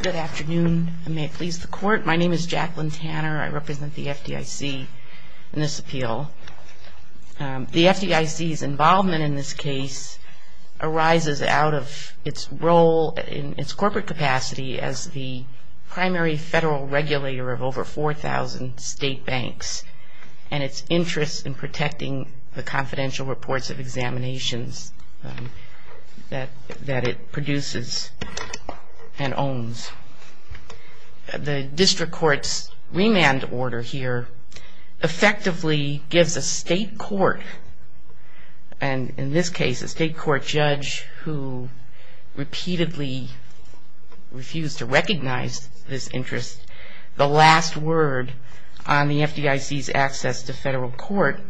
Good afternoon, and may it please the court. My name is Jacqueline Tanner. I represent the FDIC in this appeal. The FDIC's involvement in this case arises out of its role in its corporate capacity as the primary federal regulator of over 4,000 state banks and its interest in protecting the confidential reports of examinations that it produces and owns. The district court's remand order here effectively gives a state court, and in this case a state court judge, who repeatedly refused to recognize this interest, the last word on the FDIC's access to federal court,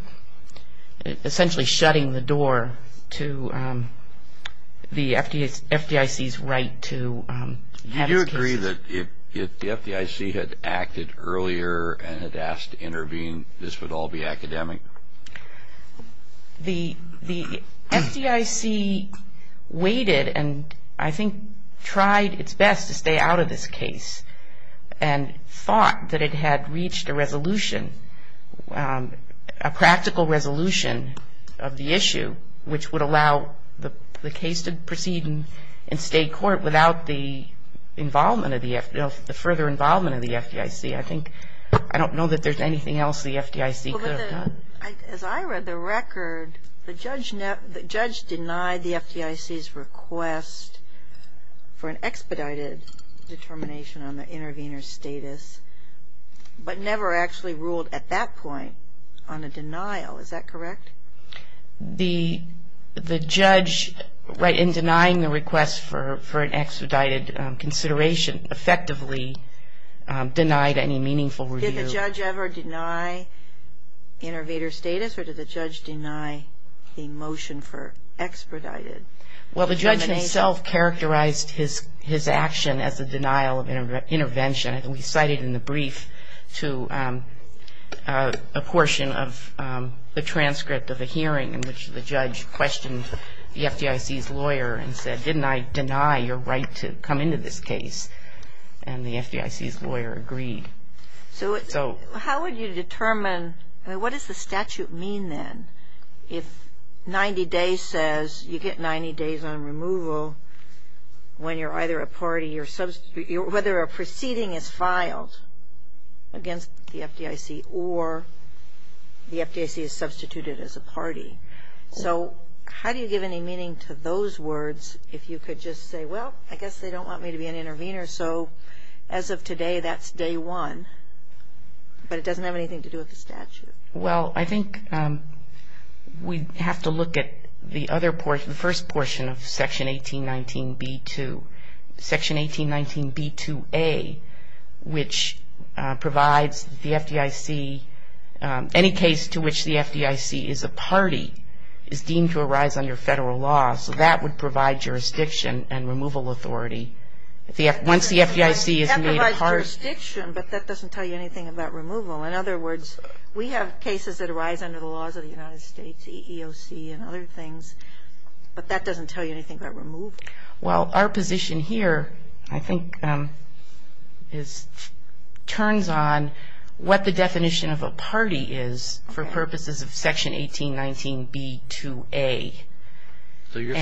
essentially shutting the door to the FDIC's right to manage cases. Do you agree that if the FDIC had acted earlier and had asked to intervene, this would all be academic? The FDIC waited and I think tried its best to stay out of this case and thought that it had reached a resolution, a practical resolution of the issue which would allow the case to proceed in state court without the further involvement of the FDIC. I think, I don't know that there's anything else the FDIC could have done. As I read the record, the judge denied the FDIC's request for an expedited determination on the intervener's status, but never actually ruled at that point on a denial. Is that correct? The judge, in denying the request for an expedited consideration, effectively denied any meaningful review. Did the judge ever deny intervener's status or did the judge deny the motion for expedited determination? Well, the judge himself characterized his action as a denial of intervention. We cited in the brief to a portion of the transcript of a hearing in which the judge questioned the FDIC's lawyer and said, didn't I deny your right to come into this case? And the FDIC's lawyer agreed. So how would you determine, I mean, what does the statute mean then if 90 days says you get 90 days on removal when you're either a party or whether a proceeding is filed against the FDIC or the FDIC is substituted as a party? So how do you give any meaning to those words if you could just say, well, I guess they don't want me to be an intervener, so as of today, that's day one, but it doesn't have anything to do with the statute? Well, I think we have to look at the other portion, the first portion of Section 1819B-2. Section 1819B-2a, which provides the FDIC, any case to which the FDIC is a party is deemed to arise under federal law. So that would provide jurisdiction and removal authority. Once the FDIC is made a party. That provides jurisdiction, but that doesn't tell you anything about removal. In other words, we have cases that arise under the laws of the United States, EEOC and other things, but that doesn't tell you anything about removal. Well, our position here I think turns on what the definition of a party is for purposes of Section 1819B-2a. So you're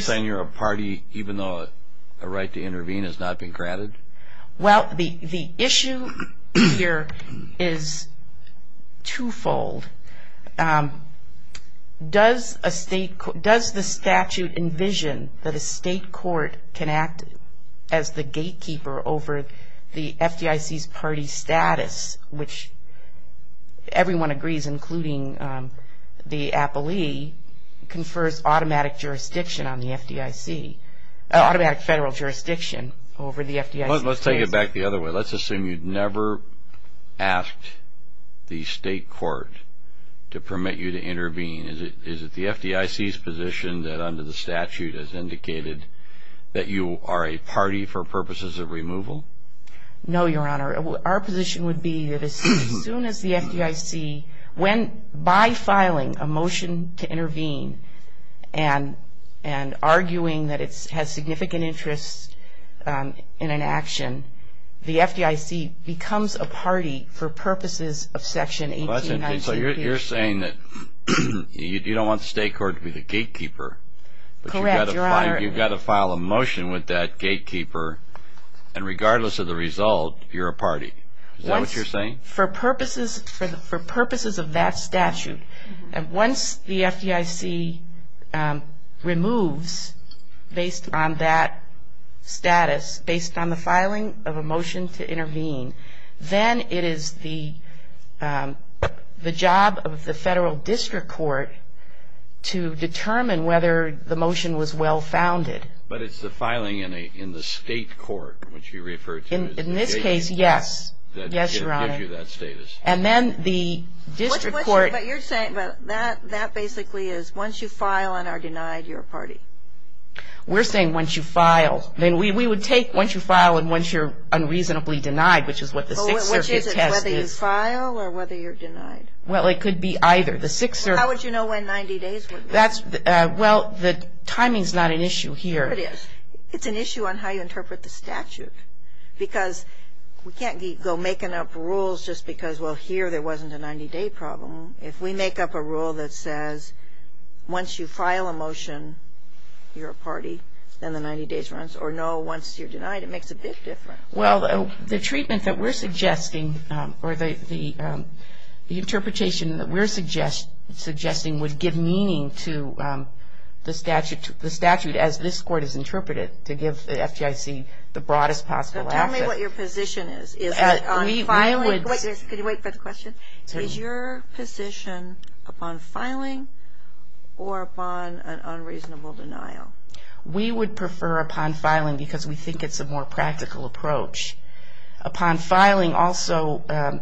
saying you're a party even though a right to intervene has not been granted? Well, the issue here is twofold. Does the statute envision that a state court can act as the gatekeeper over the FDIC's party status, which everyone agrees, including the appellee, confers automatic jurisdiction on the FDIC, automatic federal jurisdiction over the FDIC? Let's take it back the other way. Let's assume you never asked the state court to permit you to intervene. Is it the FDIC's position that under the statute has indicated that you are a party for purposes of removal? No, Your Honor. Our position would be that as soon as the FDIC, by filing a motion to intervene and arguing that it has significant interest in an action, the FDIC becomes a party for purposes of Section 1819B-2a. So you're saying that you don't want the state court to be the gatekeeper. Correct, Your Honor. You've got to file a motion with that gatekeeper, and regardless of the result, you're a party. Is that what you're saying? For purposes of that statute. Once the FDIC removes based on that status, based on the filing of a motion to intervene, then it is the job of the federal district court to determine whether the motion was well-founded. But it's the filing in the state court, which you refer to as the gatekeeper. In this case, yes. Yes, Your Honor. That gives you that status. And then the district court. But you're saying that basically is once you file and are denied, you're a party. We're saying once you file. Then we would take once you file and once you're unreasonably denied, which is what the Sixth Circuit test is. Well, which is it, whether you file or whether you're denied? Well, it could be either. The Sixth Circuit. How would you know when 90 days would be? Well, the timing is not an issue here. It is. It's an issue on how you interpret the statute. Because we can't go making up rules just because, well, here there wasn't a 90-day problem. If we make up a rule that says once you file a motion, you're a party, then the 90 days runs. Or no, once you're denied, it makes a big difference. Well, the treatment that we're suggesting or the interpretation that we're suggesting would give meaning to the statute as this court has interpreted to give the FGIC the broadest possible access. So tell me what your position is. Is it on filing? Could you wait for the question? Is your position upon filing or upon an unreasonable denial? We would prefer upon filing because we think it's a more practical approach. Upon filing also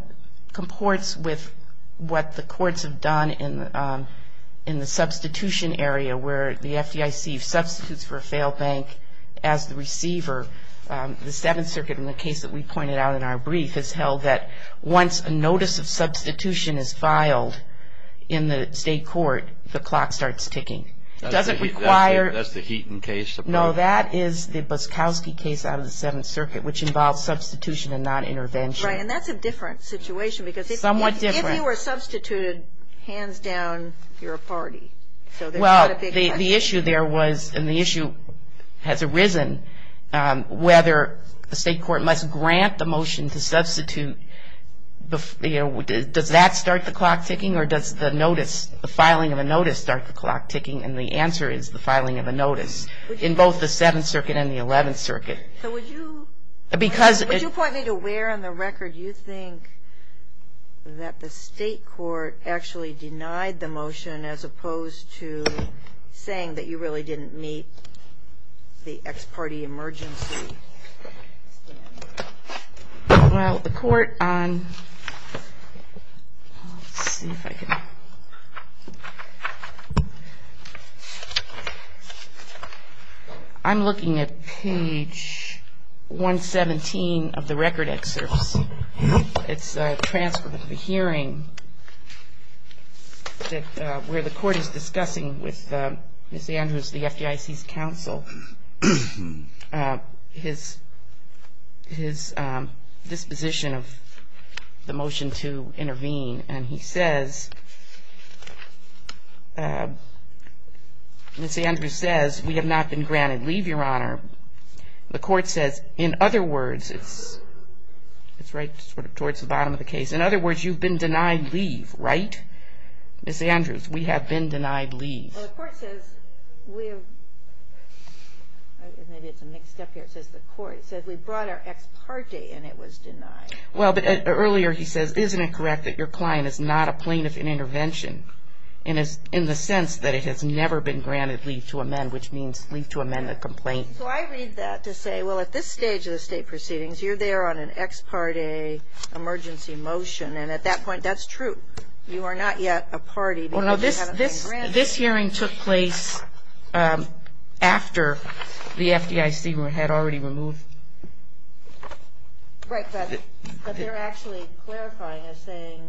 comports with what the courts have done in the substitution area where the FGIC substitutes for a failed bank as the receiver. The Seventh Circuit, in the case that we pointed out in our brief, has held that once a notice of substitution is filed in the state court, the clock starts ticking. Does it require? That's the Heaton case. No, that is the Buskowski case out of the Seventh Circuit, which involves substitution and not intervention. Right. And that's a different situation. Somewhat different. Because if you were substituted, hands down, you're a party. Well, the issue there was, and the issue has arisen, whether the state court must grant the motion to substitute. Does that start the clock ticking or does the notice, the filing of a notice, start the clock ticking? And the answer is the filing of a notice in both the Seventh Circuit and the Eleventh Circuit. So would you point me to where on the record you think that the state court actually denied the motion as opposed to saying that you really didn't meet the ex-party emergency standard? Well, the court on, let's see if I can, I'm looking at page 117 of the record excerpts. It's transferred to the hearing where the court is discussing with Ms. Andrews, the FDIC's counsel, his disposition of the motion to intervene. And he says, Ms. Andrews says, we have not been granted leave, Your Honor. The court says, in other words, it's right sort of towards the bottom of the case. In other words, you've been denied leave, right? Ms. Andrews, we have been denied leave. Well, the court says we have, and maybe it's a mixed up here, it says the court says we brought our ex-party and it was denied. Well, but earlier he says, isn't it correct that your client is not a plaintiff in intervention in the sense that it has never been granted leave to amend, which means leave to amend the complaint. So I read that to say, well, at this stage of the state proceedings, you're there on an ex-party emergency motion. And at that point, that's true. You are not yet a party because you haven't been granted leave. Well, no, this hearing took place after the FDIC had already removed. Right, but they're actually clarifying as saying,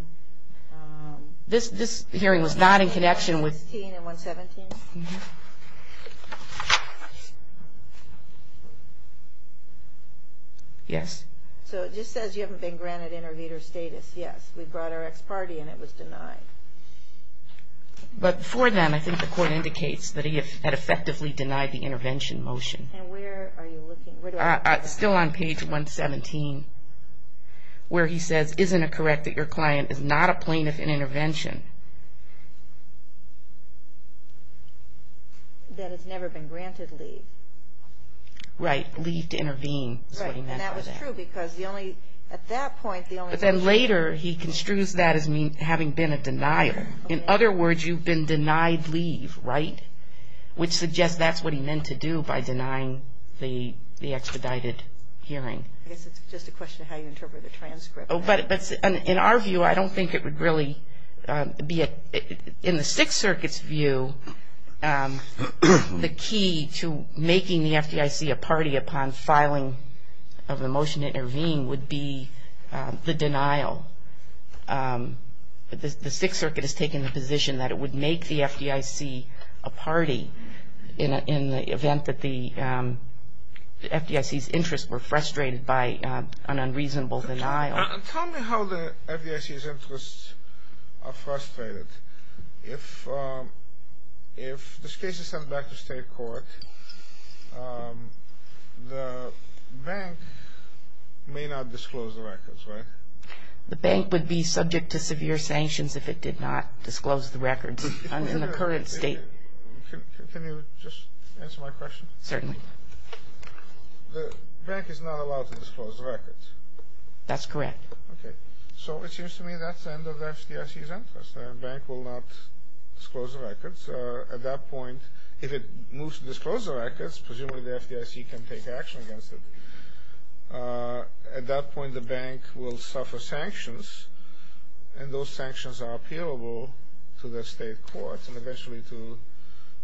this hearing was not in connection with. Page 16 and 117? Yes. So it just says you haven't been granted intervener status. Yes, we brought our ex-party and it was denied. But before then, I think the court indicates that he had effectively denied the intervention motion. And where are you looking? Still on page 117, where he says, isn't it correct that your client is not a plaintiff in intervention? That has never been granted leave. Right, leave to intervene is what he meant by that. Right, and that was true because the only, at that point, the only. But then later he construes that as having been a denial. In other words, you've been denied leave, right? Which suggests that's what he meant to do by denying the expedited hearing. I guess it's just a question of how you interpret the transcript. But in our view, I don't think it would really be, in the Sixth Circuit's view, the key to making the FDIC a party upon filing of the motion to intervene would be the denial. The Sixth Circuit has taken the position that it would make the FDIC a party in the event that the FDIC's interests were frustrated by an unreasonable denial. Tell me how the FDIC's interests are frustrated. If this case is sent back to state court, the bank may not disclose the records, right? The bank would be subject to severe sanctions if it did not disclose the records in the current state. Can you just answer my question? Certainly. The bank is not allowed to disclose the records. That's correct. Okay. So it seems to me that's the end of the FDIC's interests. The bank will not disclose the records. At that point, if it moves to disclose the records, presumably the FDIC can take action against it. At that point, the bank will suffer sanctions, and those sanctions are appealable to the state courts and eventually to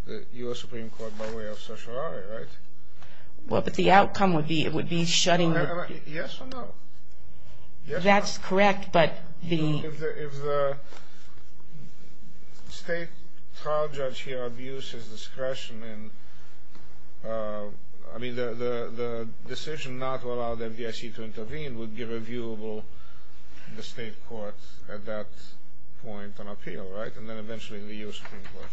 the U.S. Supreme Court by way of social order, right? Well, but the outcome would be it would be shutting the... Yes or no? That's correct, but the... State trial judge here abuses discretion in, I mean, the decision not to allow the FDIC to intervene would be reviewable in the state court at that point on appeal, right? And then eventually in the U.S. Supreme Court.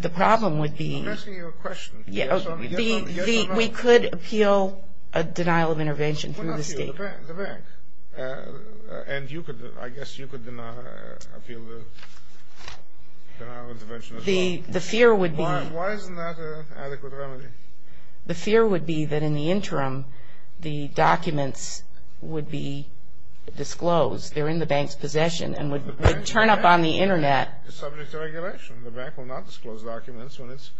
The problem would be... I'm asking you a question. Yes or no? We could appeal a denial of intervention through the state court. The bank. And you could, I guess you could deny appeal the denial of intervention as well. The fear would be... Why isn't that an adequate remedy? The fear would be that in the interim, the documents would be disclosed. They're in the bank's possession and would turn up on the Internet. It's subject to regulation. The bank will not disclose documents when it's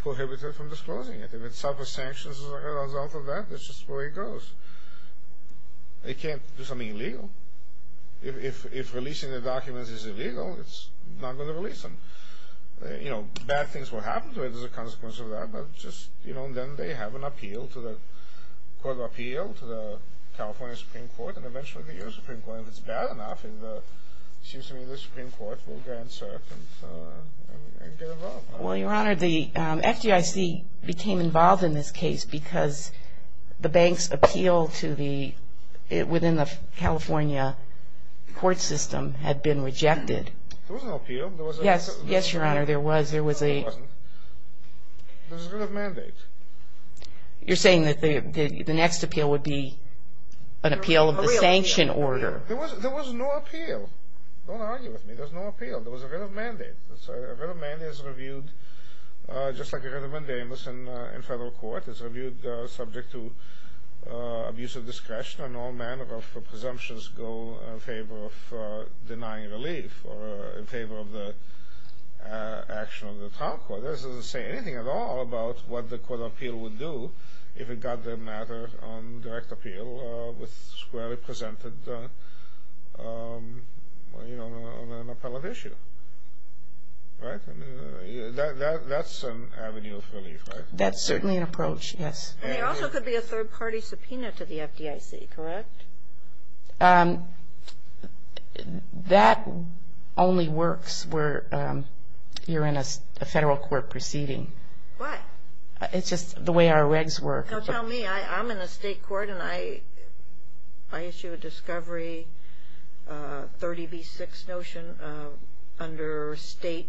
prohibited from disclosing it. If it suffers sanctions as a result of that, that's just the way it goes. They can't do something illegal. If releasing the documents is illegal, it's not going to release them. You know, bad things will happen to it as a consequence of that, but just, you know, then they have an appeal to the Court of Appeal, to the California Supreme Court, and eventually the U.S. Supreme Court. If it's bad enough, it seems to me the Supreme Court will grant cert and get involved. Well, Your Honor, the FDIC became involved in this case because the bank's appeal within the California court system had been rejected. There was an appeal. Yes, Your Honor, there was. There was a written mandate. You're saying that the next appeal would be an appeal of the sanction order. There was no appeal. Don't argue with me. There was no appeal. There was a written mandate. A written mandate is reviewed just like a written mandate in federal court. It's reviewed subject to abuse of discretion, and all manner of presumptions go in favor of denying relief or in favor of the action of the trial court. This doesn't say anything at all about what the Court of Appeal would do if it got the matter on direct appeal with squarely presented on an appellate issue. That's an avenue of relief, right? That's certainly an approach, yes. There also could be a third-party subpoena to the FDIC, correct? That only works where you're in a federal court proceeding. Why? It's just the way our regs work. Tell me. I'm in a state court, and I issue a discovery 30B6 notion under state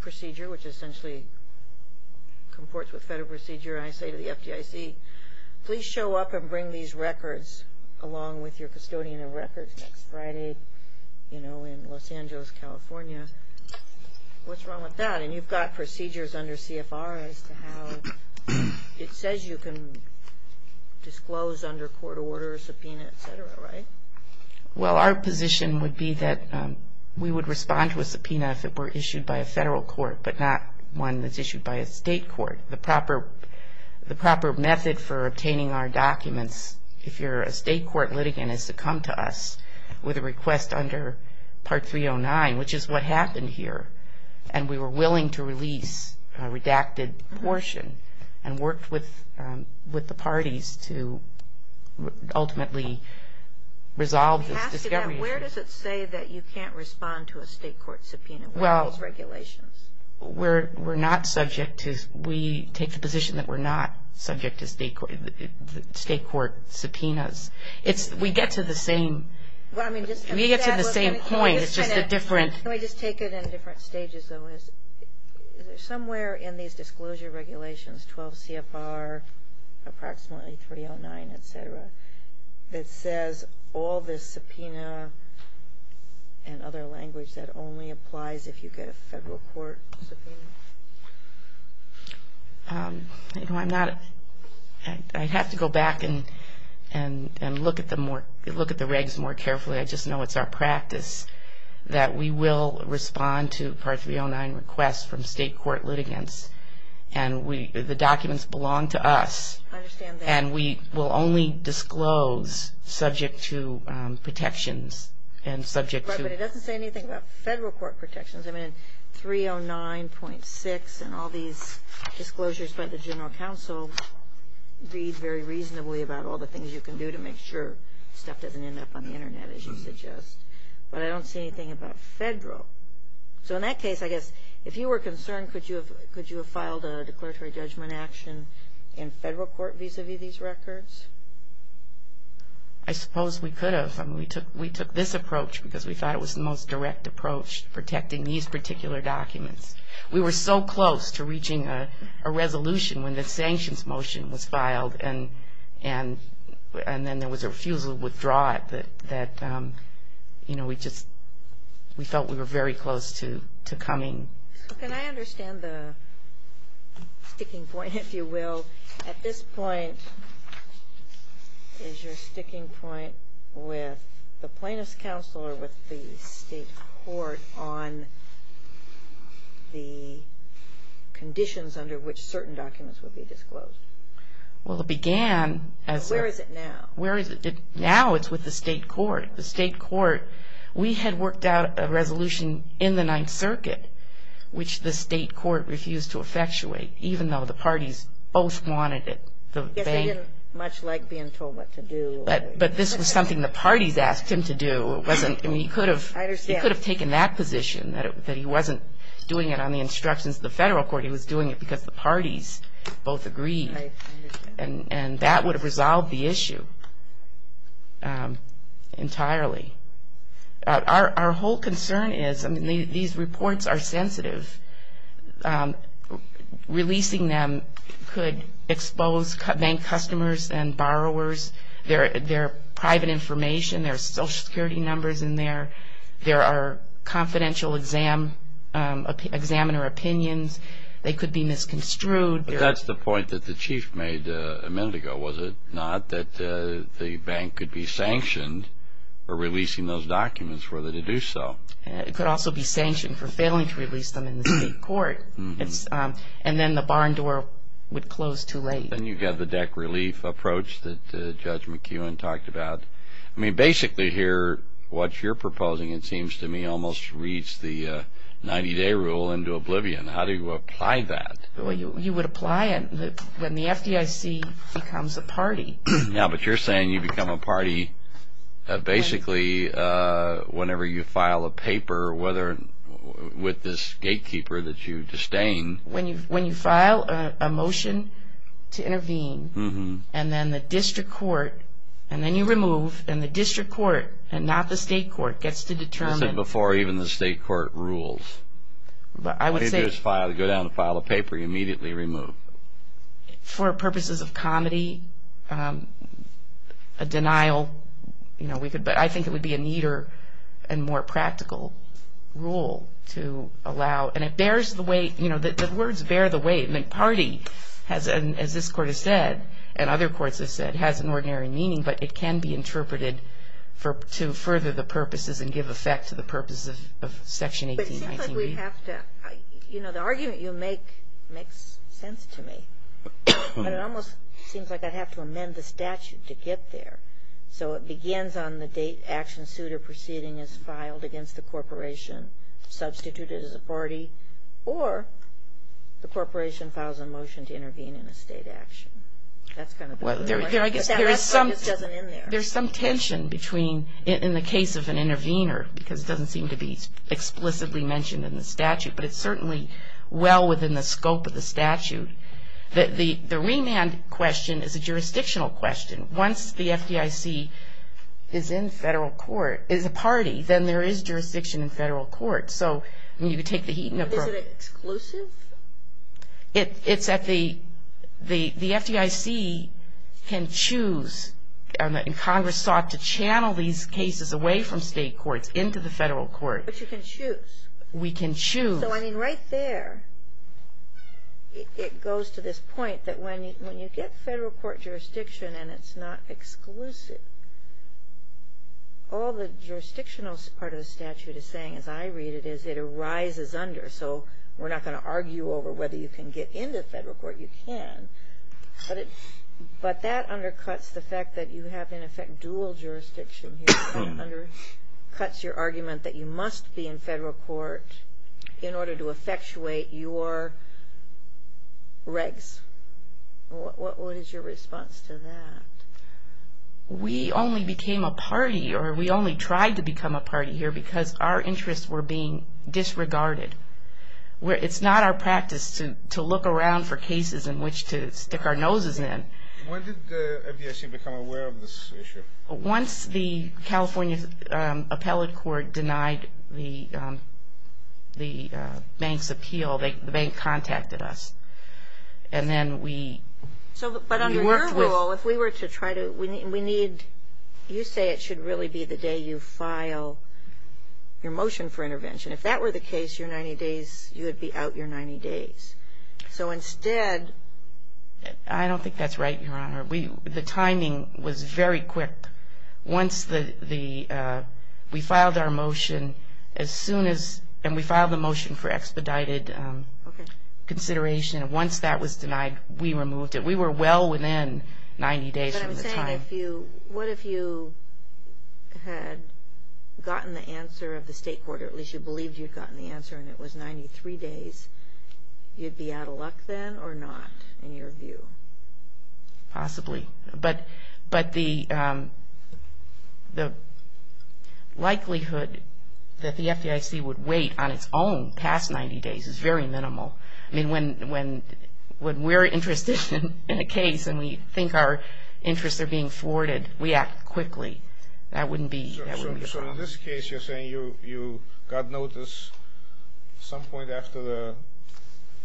procedure, which essentially comports with federal procedure, and I say to the FDIC, please show up and bring these records along with your custodian of records next Friday, you know, in Los Angeles, California. What's wrong with that? And you've got procedures under CFR as to how it says you can disclose under court order, subpoena, et cetera, right? Well, our position would be that we would respond to a subpoena if it were issued by a federal court but not one that's issued by a state court. The proper method for obtaining our documents, if you're a state court litigant, is to come to us with a request under Part 309, which is what happened here, and we were willing to release a redacted portion and worked with the parties to ultimately resolve this discovery issue. Where does it say that you can't respond to a state court subpoena? What are those regulations? We take the position that we're not subject to state court subpoenas. We get to the same point. Can we just take it in different stages, though? Is there somewhere in these disclosure regulations, 12 CFR, approximately 309, et cetera, that says all this subpoena and other language that only applies if you get a federal court subpoena? I have to go back and look at the regs more carefully. I just know it's our practice that we will respond to Part 309 requests from state court litigants, and the documents belong to us. I understand that. And we will only disclose subject to protections and subject to— Right, but it doesn't say anything about federal court protections. I mean, 309.6 and all these disclosures by the General Counsel read very reasonably about all the things you can do to make sure stuff doesn't end up on the Internet, as you suggest. But I don't see anything about federal. So in that case, I guess, if you were concerned, could you have filed a declaratory judgment action in federal court vis-a-vis these records? I suppose we could have. I mean, we took this approach because we thought it was the most direct approach, protecting these particular documents. We were so close to reaching a resolution when the sanctions motion was filed, and then there was a refusal to withdraw it that, you know, we just felt we were very close to coming. Can I understand the sticking point, if you will? At this point, is your sticking point with the plaintiff's counsel or with the state court on the conditions under which certain documents would be disclosed? Well, it began as a— Where is it now? Now it's with the state court. The state court, we had worked out a resolution in the Ninth Circuit, which the state court refused to effectuate, even though the parties both wanted it. I guess they didn't much like being told what to do. But this was something the parties asked him to do. It wasn't—I mean, he could have— I understand. He could have taken that position, that he wasn't doing it on the instructions of the federal court. He was doing it because the parties both agreed. I understand. And that would have resolved the issue entirely. Our whole concern is, I mean, these reports are sensitive. Releasing them could expose bank customers and borrowers. There are private information. There are Social Security numbers in there. There are confidential examiner opinions. They could be misconstrued. That's the point that the chief made a minute ago, was it not, that the bank could be sanctioned for releasing those documents were they to do so. It could also be sanctioned for failing to release them in the state court. And then the barn door would close too late. And you've got the deck relief approach that Judge McKeown talked about. I mean, basically here, what you're proposing, it seems to me, almost reads the 90-day rule into oblivion. How do you apply that? Well, you would apply it when the FDIC becomes a party. Yeah, but you're saying you become a party basically whenever you file a paper with this gatekeeper that you disdain. When you file a motion to intervene, and then the district court, and then you remove, and the district court and not the state court gets to determine. This is before even the state court rules. When you go down to file a paper, you immediately remove. For purposes of comedy, a denial, you know, we could, but I think it would be a neater and more practical rule to allow. And it bears the weight, you know, the words bear the weight. I mean, party, as this court has said, and other courts have said, has an ordinary meaning, but it can be interpreted to further the purposes and give effect to the purposes of Section 1819b. I think we'd have to, you know, the argument you make makes sense to me. But it almost seems like I'd have to amend the statute to get there. So it begins on the date action suit or proceeding is filed against the corporation, substituted as a party, or the corporation files a motion to intervene in a state action. That's kind of the point. Well, I guess there is some tension between, in the case of an intervener, because it doesn't seem to be explicitly mentioned in the statute, but it's certainly well within the scope of the statute. The remand question is a jurisdictional question. Once the FDIC is in federal court, is a party, then there is jurisdiction in federal court. So, I mean, you could take the Heaton approach. Is it exclusive? It's at the, the FDIC can choose, and Congress sought to channel these cases away from state courts into the federal court. But you can choose. We can choose. So, I mean, right there, it goes to this point that when you get federal court jurisdiction and it's not exclusive, all the jurisdictional part of the statute is saying, as I read it, is it arises under. So we're not going to argue over whether you can get into federal court. You can, but that undercuts the fact that you have, in effect, dual jurisdiction here. It undercuts your argument that you must be in federal court in order to effectuate your regs. What is your response to that? We only became a party, or we only tried to become a party here, because our interests were being disregarded. It's not our practice to look around for cases in which to stick our noses in. When did the FDIC become aware of this issue? Once the California Appellate Court denied the bank's appeal, the bank contacted us. And then we worked with. So, but under your rule, if we were to try to, we need, you say it should really be the day you file your motion for intervention. If that were the case, your 90 days, you would be out your 90 days. So instead. I don't think that's right, Your Honor. The timing was very quick. Once the, we filed our motion as soon as, and we filed the motion for expedited consideration. Once that was denied, we removed it. We were well within 90 days from the time. What if you had gotten the answer of the state court, or at least you believed you'd gotten the answer and it was 93 days, you'd be out of luck then or not in your view? Possibly. But the likelihood that the FDIC would wait on its own past 90 days is very minimal. I mean, when we're interested in a case and we think our interests are being thwarted, we act quickly. That wouldn't be the problem. So in this case, you're saying you got notice some point after the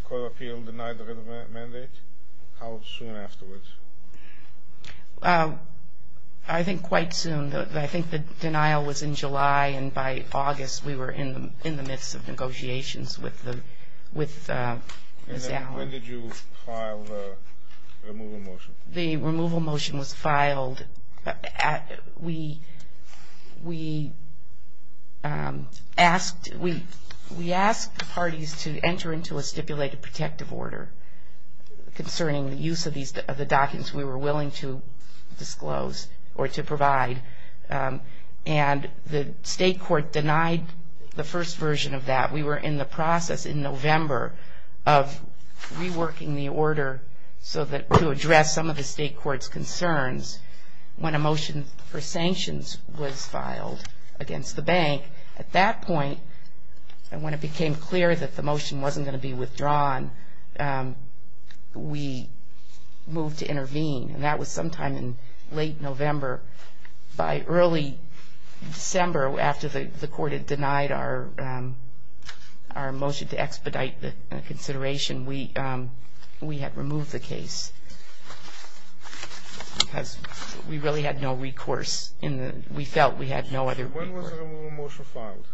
court of appeal denied the written mandate? How soon afterwards? I think quite soon. I think the denial was in July, and by August we were in the midst of negotiations with Ms. Allen. When did you file the removal motion? We asked the parties to enter into a stipulated protective order concerning the use of the documents we were willing to disclose or to provide, and the state court denied the first version of that. We were in the process in November of reworking the order to address some of the state court's concerns when a motion for sanctions was filed against the bank. At that point, when it became clear that the motion wasn't going to be withdrawn, we moved to intervene. And that was sometime in late November. By early December, after the court had denied our motion to expedite the consideration, we had removed the case because we really had no recourse. We felt we had no other recourse. When was the removal motion filed?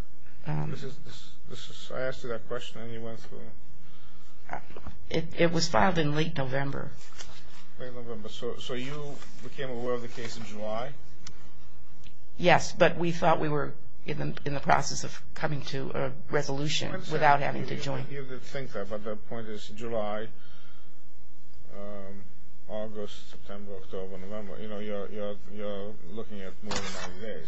I asked you that question and you went through it. It was filed in late November. Late November. So you became aware of the case in July? Yes, but we thought we were in the process of coming to a resolution without having to join. You would think that, but the point is July, August, September, October, November. You know, you're looking at more than 90 days.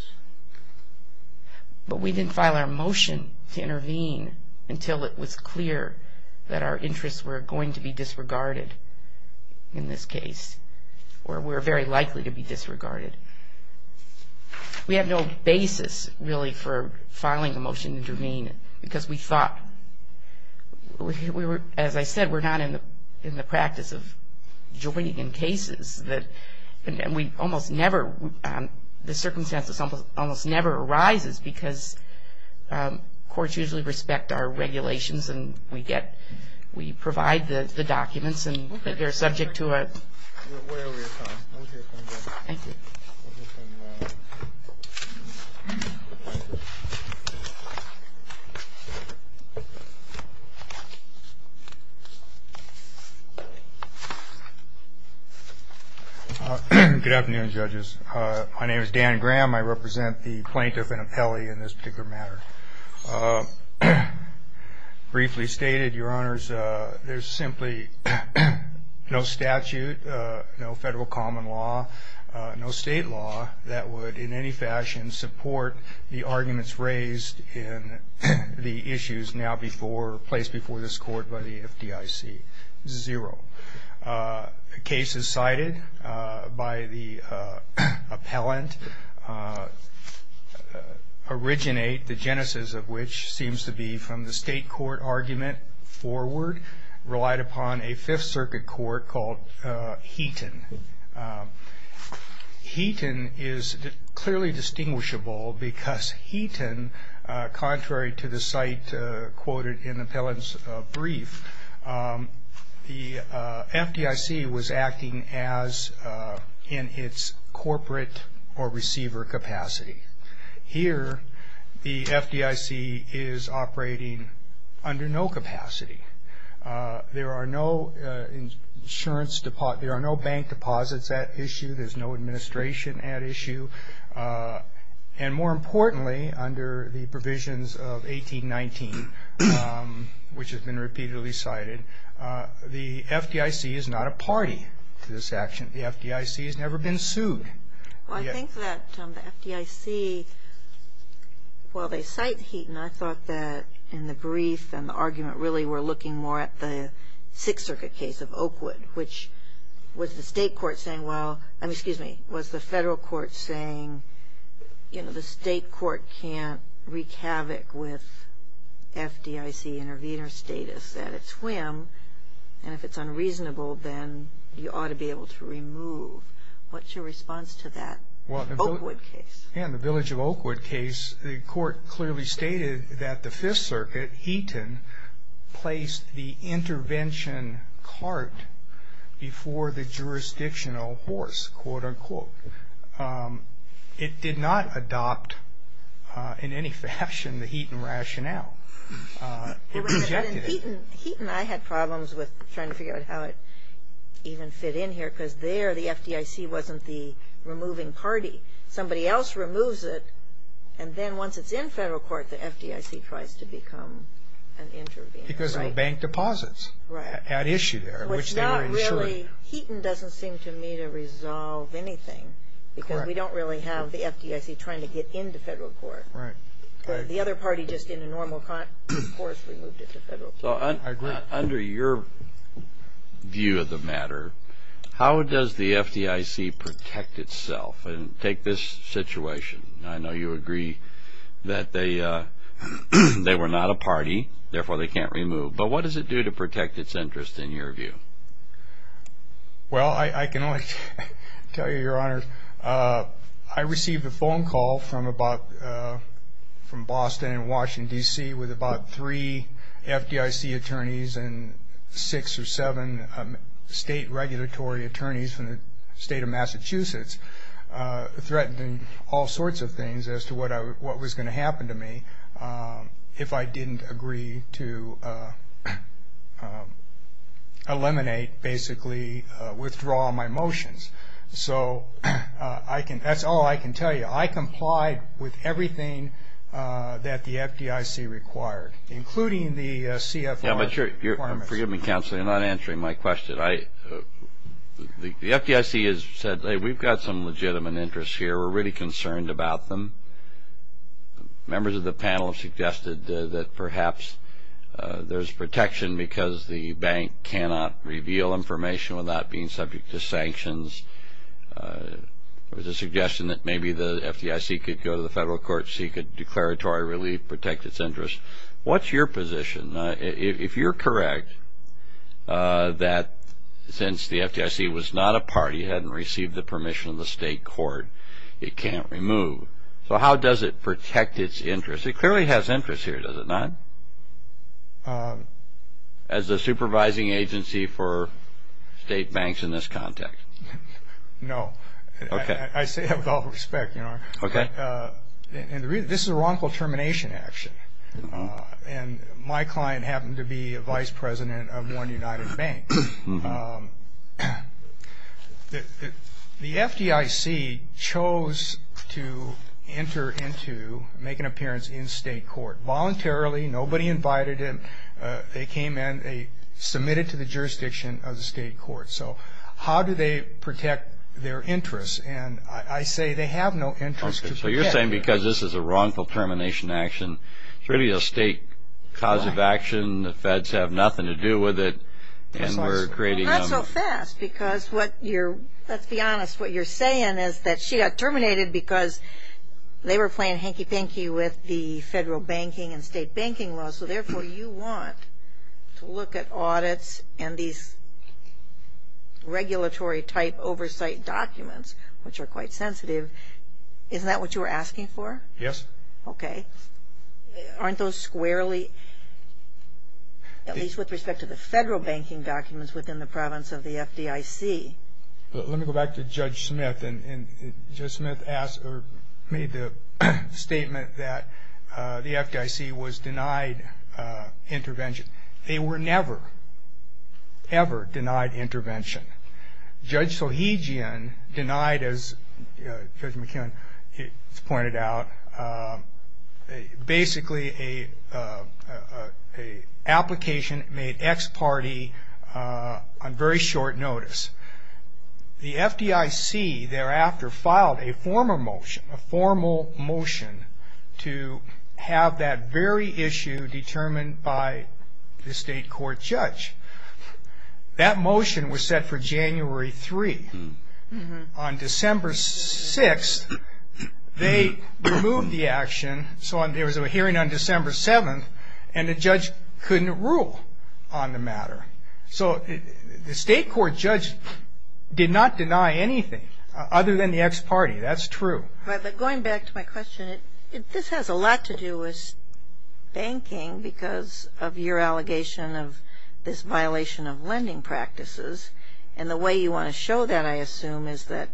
But we didn't file our motion to intervene until it was clear that our interests were going to be disregarded in this case, or were very likely to be disregarded. We had no basis, really, for filing a motion to intervene because we thought, as I said, we're not in the practice of joining in cases. We almost never, the circumstances almost never arises because courts usually respect our regulations and we provide the documents and they're subject to a... Good afternoon, judges. My name is Dan Graham. I represent the plaintiff and appellee in this particular matter. Briefly stated, Your Honors, there's simply no statute, no federal common law, no state law that would in any fashion support the arguments raised in the issues now before, placed before this court by the FDIC. Zero. Cases cited by the appellant originate, the genesis of which seems to be from the state court argument forward, relied upon a Fifth Circuit court called Heaton. Heaton is clearly distinguishable because Heaton, contrary to the site quoted in the appellant's brief, the FDIC was acting as in its corporate or receiver capacity. Here the FDIC is operating under no capacity. There are no insurance, there are no bank deposits at issue. There's no administration at issue. And more importantly, under the provisions of 1819, which has been repeatedly cited, the FDIC is not a party to this action. The FDIC has never been sued. Well, I think that the FDIC, while they cite Heaton, I thought that in the brief and the argument really were looking more at the Sixth Circuit case of Oakwood, which was the state court saying, well, I mean, excuse me, was the federal court saying, you know, the state court can't wreak havoc with FDIC intervenor status at its whim, and if it's unreasonable, then you ought to be able to remove. What's your response to that Oakwood case? Yeah, in the Village of Oakwood case, the court clearly stated that the Fifth Circuit, Heaton, placed the intervention cart before the jurisdictional horse, quote, unquote. It did not adopt in any fashion the Heaton rationale. It rejected it. Heaton, I had problems with trying to figure out how it even fit in here, because there the FDIC wasn't the removing party. Somebody else removes it, and then once it's in federal court, the FDIC tries to become an intervenor. Because of the bank deposits at issue there, which they were insuring. Which not really, Heaton doesn't seem to me to resolve anything, because we don't really have the FDIC trying to get into federal court. Right. The other party just in a normal course removed it to federal court. I agree. Under your view of the matter, how does the FDIC protect itself? Take this situation. I know you agree that they were not a party, therefore they can't remove. But what does it do to protect its interest in your view? Well, I can only tell you, Your Honor, I received a phone call from Boston and Washington, D.C. with about three FDIC attorneys and six or seven state regulatory attorneys from the state of Massachusetts threatening all sorts of things as to what was going to happen to me if I didn't agree to eliminate, basically withdraw my motions. So that's all I can tell you. I complied with everything that the FDIC required, including the CFR requirements. Forgive me, Counselor. You're not answering my question. The FDIC has said, Hey, we've got some legitimate interests here. We're really concerned about them. Members of the panel have suggested that perhaps there's protection because the bank cannot reveal information without being subject to sanctions. There was a suggestion that maybe the FDIC could go to the federal court, seek a declaratory relief, protect its interest. What's your position? If you're correct that since the FDIC was not a party, it hadn't received the permission of the state court, it can't remove. So how does it protect its interest? It clearly has interest here, does it not? As a supervising agency for state banks in this context? No. Okay. I say that with all respect. Okay. And this is a wrongful termination action. And my client happened to be a vice president of one United Bank. The FDIC chose to enter into, make an appearance in state court, voluntarily, nobody invited him. They came in, they submitted to the jurisdiction of the state court. So how do they protect their interest? And I say they have no interest to protect. So you're saying because this is a wrongful termination action, it's really a state cause of action, the feds have nothing to do with it, and we're creating them. Well, not so fast because what you're, let's be honest, what you're saying is that she got terminated because they were playing hanky-panky with the federal banking and state banking laws. So, therefore, you want to look at audits and these regulatory type oversight documents, which are quite sensitive. Isn't that what you were asking for? Yes. Okay. Aren't those squarely, at least with respect to the federal banking documents, within the province of the FDIC? Let me go back to Judge Smith. Judge Smith made the statement that the FDIC was denied intervention. They were never, ever denied intervention. Judge Sohigian denied, as Judge McKinnon has pointed out, basically an application made ex parte on very short notice. The FDIC thereafter filed a formal motion to have that very issue determined by the state court judge. That motion was set for January 3. On December 6, they removed the action, so there was a hearing on December 7, and the judge couldn't rule on the matter. So the state court judge did not deny anything other than the ex parte. That's true. But going back to my question, this has a lot to do with banking because of your allegation of this violation of lending practices, and the way you want to show that, I assume, is that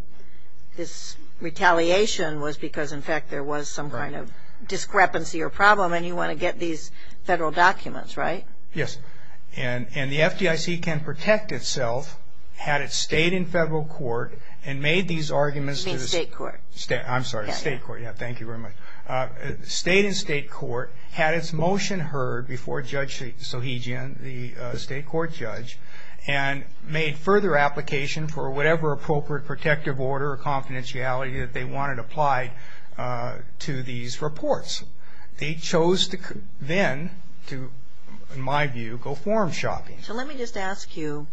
this retaliation was because, in fact, there was some kind of discrepancy or problem, and you want to get these federal documents, right? Yes. And the FDIC can protect itself had it stayed in federal court and made these arguments to the state court. I'm sorry, the state court. Thank you very much. Stayed in state court, had its motion heard before Judge Sohigian, the state court judge, and made further application for whatever appropriate protective order or confidentiality that they wanted applied to these reports. They chose then, in my view, to go forum shopping. So let me just ask you,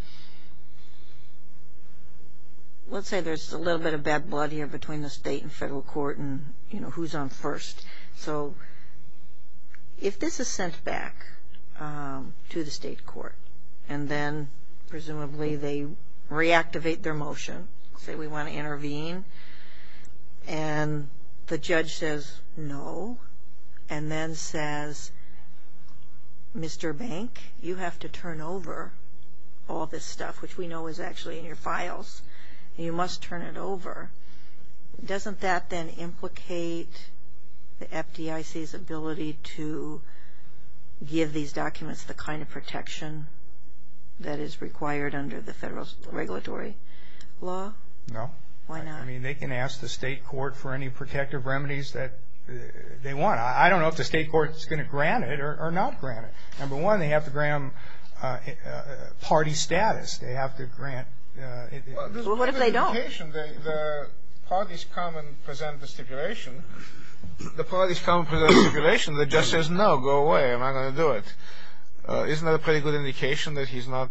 let's say there's a little bit of bad blood here between the state and federal court and, you know, who's on first. So if this is sent back to the state court and then presumably they reactivate their motion, say we want to intervene, and the judge says no, and then says, Mr. Bank, you have to turn over all this stuff, which we know is actually in your files, and you must turn it over, doesn't that then implicate the FDIC's ability to give these documents the kind of protection that is required under the federal regulatory law? No. Why not? I mean, they can ask the state court for any protective remedies that they want. I don't know if the state court is going to grant it or not grant it. Number one, they have to grant them party status. They have to grant it. Well, what if they don't? The parties come and present the stipulation. The parties come and present the stipulation. The judge says no, go away, I'm not going to do it. Isn't that a pretty good indication that he's not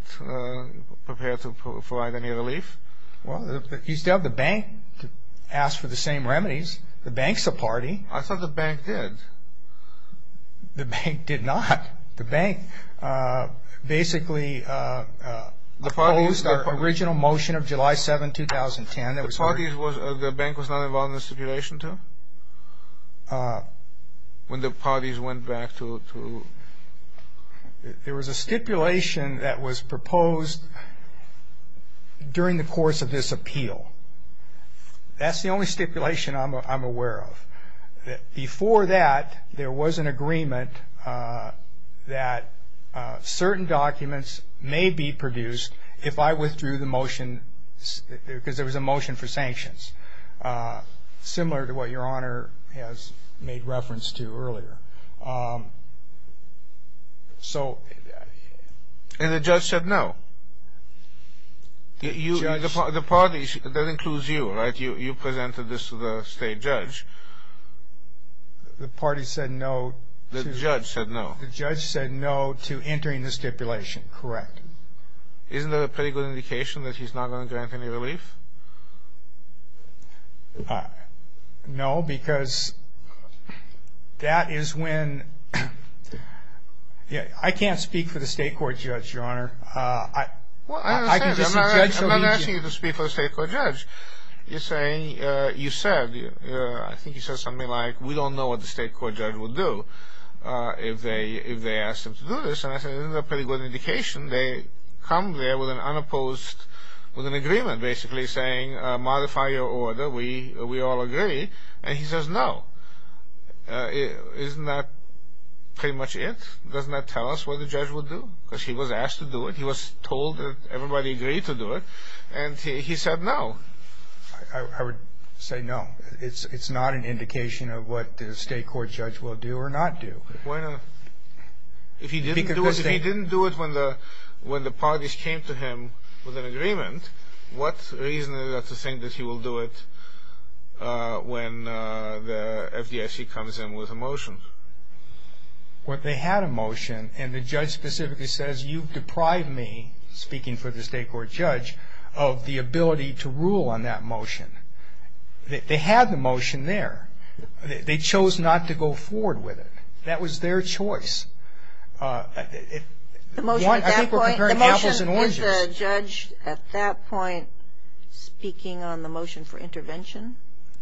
prepared to provide any relief? Well, you still have the bank to ask for the same remedies. The bank's the party. I thought the bank did. The bank did not. The bank basically opposed the original motion of July 7, 2010. The bank was not involved in the stipulation, too? When the parties went back to? There was a stipulation that was proposed during the course of this appeal. That's the only stipulation I'm aware of. Before that, there was an agreement that certain documents may be produced if I withdrew the motion because there was a motion for sanctions, similar to what Your Honor has made reference to earlier. And the judge said no? The parties, that includes you, right? You presented this to the state judge. The party said no to? The judge said no. The judge said no to entering the stipulation, correct. Isn't that a pretty good indication that he's not going to grant any relief? No, because that is when – I can't speak for the state court judge, Your Honor. Well, I understand. I'm not asking you to speak for the state court judge. You're saying, you said, I think you said something like, we don't know what the state court judge will do if they ask him to do this. And I said, isn't that a pretty good indication? They come there with an unopposed, with an agreement basically saying, modify your order, we all agree. And he says no. Isn't that pretty much it? Doesn't that tell us what the judge will do? Because he was asked to do it. He was told that everybody agreed to do it. And he said no. I would say no. It's not an indication of what the state court judge will do or not do. If he didn't do it when the parties came to him with an agreement, what reason is there to think that he will do it when the FDIC comes in with a motion? What they had a motion, and the judge specifically says, you've deprived me, speaking for the state court judge, of the ability to rule on that motion. They had the motion there. They chose not to go forward with it. That was their choice. I think we're comparing apples and oranges. Is the judge at that point speaking on the motion for intervention?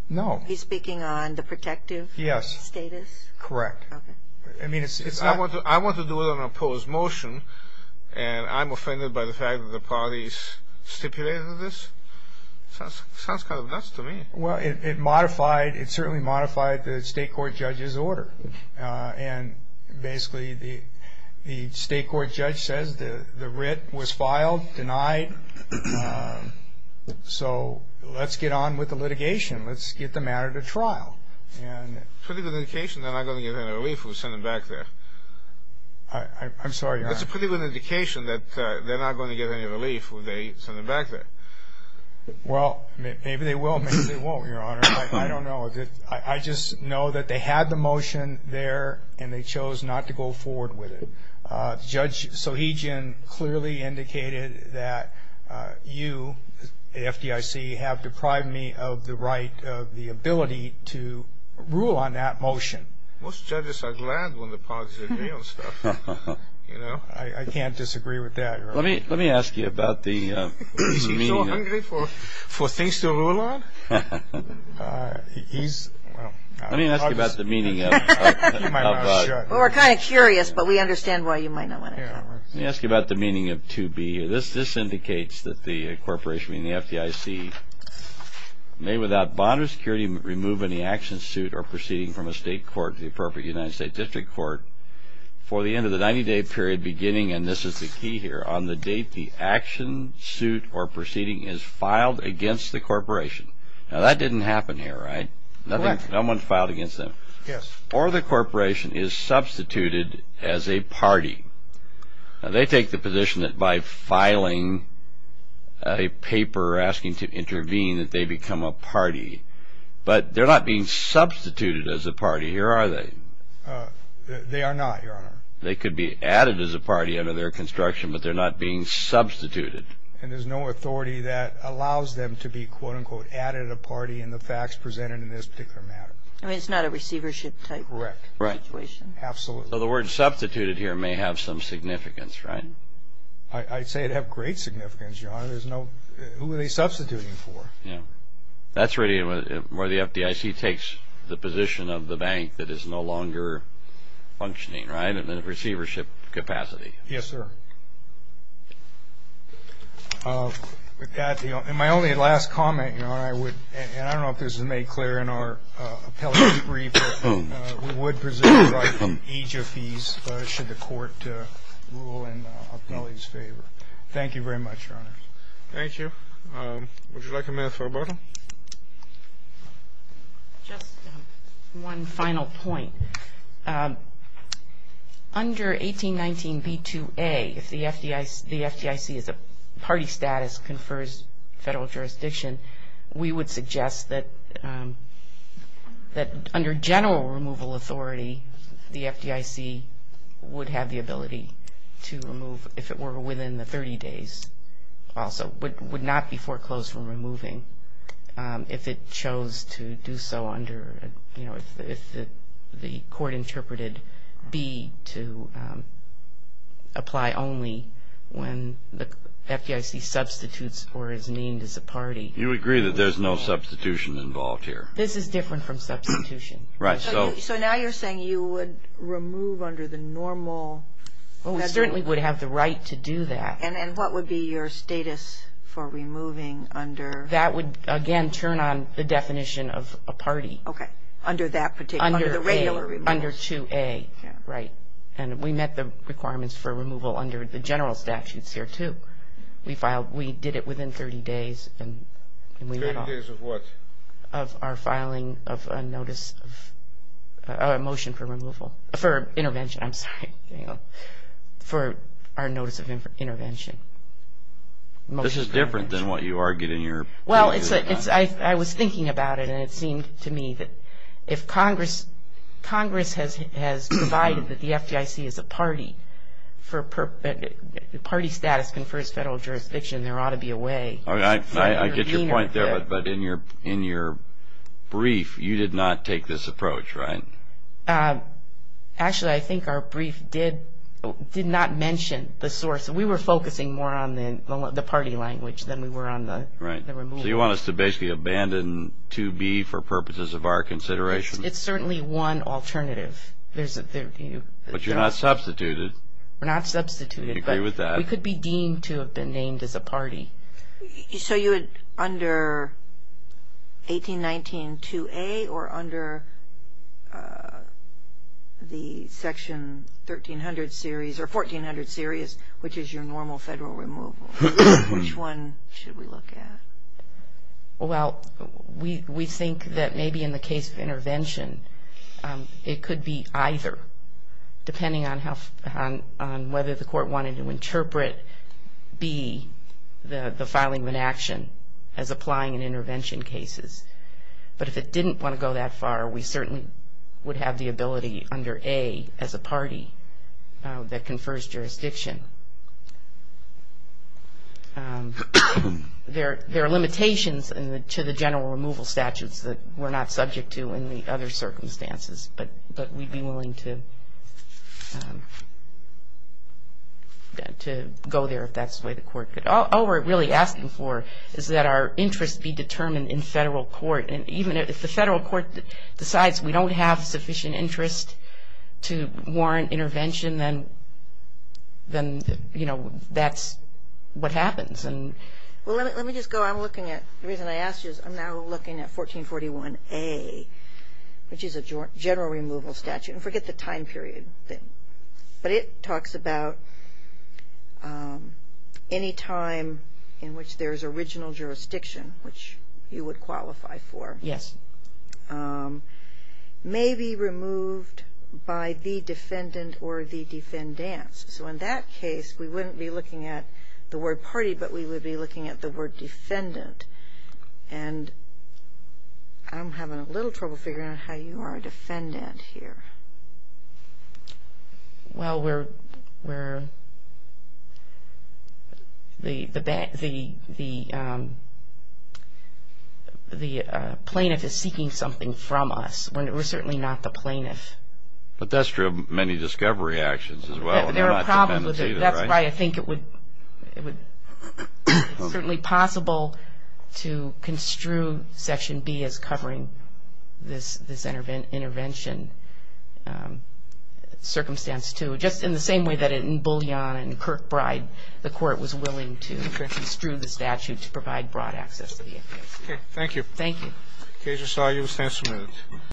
No. He's speaking on the protective status? Correct. Okay. I want to do it on an opposed motion, and I'm offended by the fact that the parties stipulated this? Sounds kind of nuts to me. Well, it certainly modified the state court judge's order. And basically the state court judge says the writ was filed, denied, so let's get on with the litigation. Let's get the matter to trial. It's a pretty good indication they're not going to get any relief if we send them back there. I'm sorry, Your Honor. It's a pretty good indication that they're not going to get any relief if they send them back there. Well, maybe they will, maybe they won't, Your Honor. I don't know. I just know that they had the motion there, and they chose not to go forward with it. Judge Sohigian clearly indicated that you, the FDIC, have deprived me of the right of the ability to rule on that motion. Most judges are glad when the parties agree on stuff, you know. I can't disagree with that, Your Honor. Let me ask you about the meaning of it. Is he so hungry for things to rule on? He's, well. Let me ask you about the meaning of it. Well, we're kind of curious, but we understand why you might not want to. Let me ask you about the meaning of 2B. This indicates that the corporation, meaning the FDIC, may without bond or security remove any action, suit, or proceeding from a state court to the appropriate United States District Court for the end of the 90-day period beginning, and this is the key here, on the date the action, suit, or proceeding is filed against the corporation. Now, that didn't happen here, right? Correct. No one filed against them. Yes. Or the corporation is substituted as a party. Now, they take the position that by filing a paper asking to intervene that they become a party, but they're not being substituted as a party, here are they. They are not, Your Honor. They could be added as a party under their construction, but they're not being substituted. And there's no authority that allows them to be, quote, unquote, added a party in the facts presented in this particular matter. I mean, it's not a receivership type situation. Right. Absolutely. So the word substituted here may have some significance, right? I'd say it'd have great significance, Your Honor. There's no ñ who are they substituting for? Yeah. That's really where the FDIC takes the position of the bank that is no longer functioning, right, in the receivership capacity. Yes, sir. And my only last comment, Your Honor, I would, and I don't know if this is made clear in our appellate debrief, but we would presume the right from age of fees should the court rule in the appellee's favor. Thank you very much, Your Honor. Thank you. Would you like a minute for rebuttal? Just one final point. Under 1819b2a, if the FDIC as a party status confers federal jurisdiction, we would suggest that under general removal authority, the FDIC would have the ability to remove if it were within the 30 days also, but would not be foreclosed from removing if it chose to do so under, you know, if the court interpreted B to apply only when the FDIC substitutes or is named as a party. You agree that there's no substitution involved here? This is different from substitution. Right. So now you're saying you would remove under the normal? Well, we certainly would have the right to do that. And what would be your status for removing under? That would, again, turn on the definition of a party. Okay. Under that particular? Under 2a. Under 2a. Yeah. Right. And we met the requirements for removal under the general statutes here, too. We did it within 30 days and we met all. Thirty days of what? Of our filing of a notice of a motion for removal. For intervention, I'm sorry. For our notice of intervention. This is different than what you argued in your. Well, I was thinking about it and it seemed to me that if Congress has provided that the FDIC is a party, the party status confers federal jurisdiction, there ought to be a way. I get your point there, but in your brief, you did not take this approach, right? Actually, I think our brief did not mention the source. We were focusing more on the party language than we were on the removal. Right. So you want us to basically abandon 2b for purposes of our consideration? It's certainly one alternative. But you're not substituted. We're not substituted. I agree with that. We could be deemed to have been named as a party. So you would under 1819-2a or under the section 1300 series or 1400 series, which is your normal federal removal, which one should we look at? Well, we think that maybe in the case of intervention, it could be either, depending on whether the court wanted to interpret b, the filing of an action, as applying in intervention cases. But if it didn't want to go that far, we certainly would have the ability under a as a party that confers jurisdiction. There are limitations to the general removal statutes that we're not subject to in the other circumstances, but we'd be willing to go there if that's the way the court could. All we're really asking for is that our interest be determined in federal court. And even if the federal court decides we don't have sufficient interest to warrant intervention, then, you know, that's what happens. Well, let me just go. I'm looking at the reason I asked you is I'm now looking at 1441a, which is a general removal statute. And forget the time period thing. But it talks about any time in which there's original jurisdiction, which you would qualify for. Yes. May be removed by the defendant or the defendants. So in that case, we wouldn't be looking at the word party, but we would be looking at the word defendant. And I'm having a little trouble figuring out how you are a defendant here. Well, we're the plaintiff is seeking something from us. We're certainly not the plaintiff. But that's true of many discovery actions as well. There are problems with it. That's why I think it would be certainly possible to construe Section B as covering this intervention circumstance too, just in the same way that in Bullion and Kirkbride, the court was willing to construe the statute to provide broad access to the FBI. Okay. Thank you. Thank you. Okay. Just allow you to stand for a minute.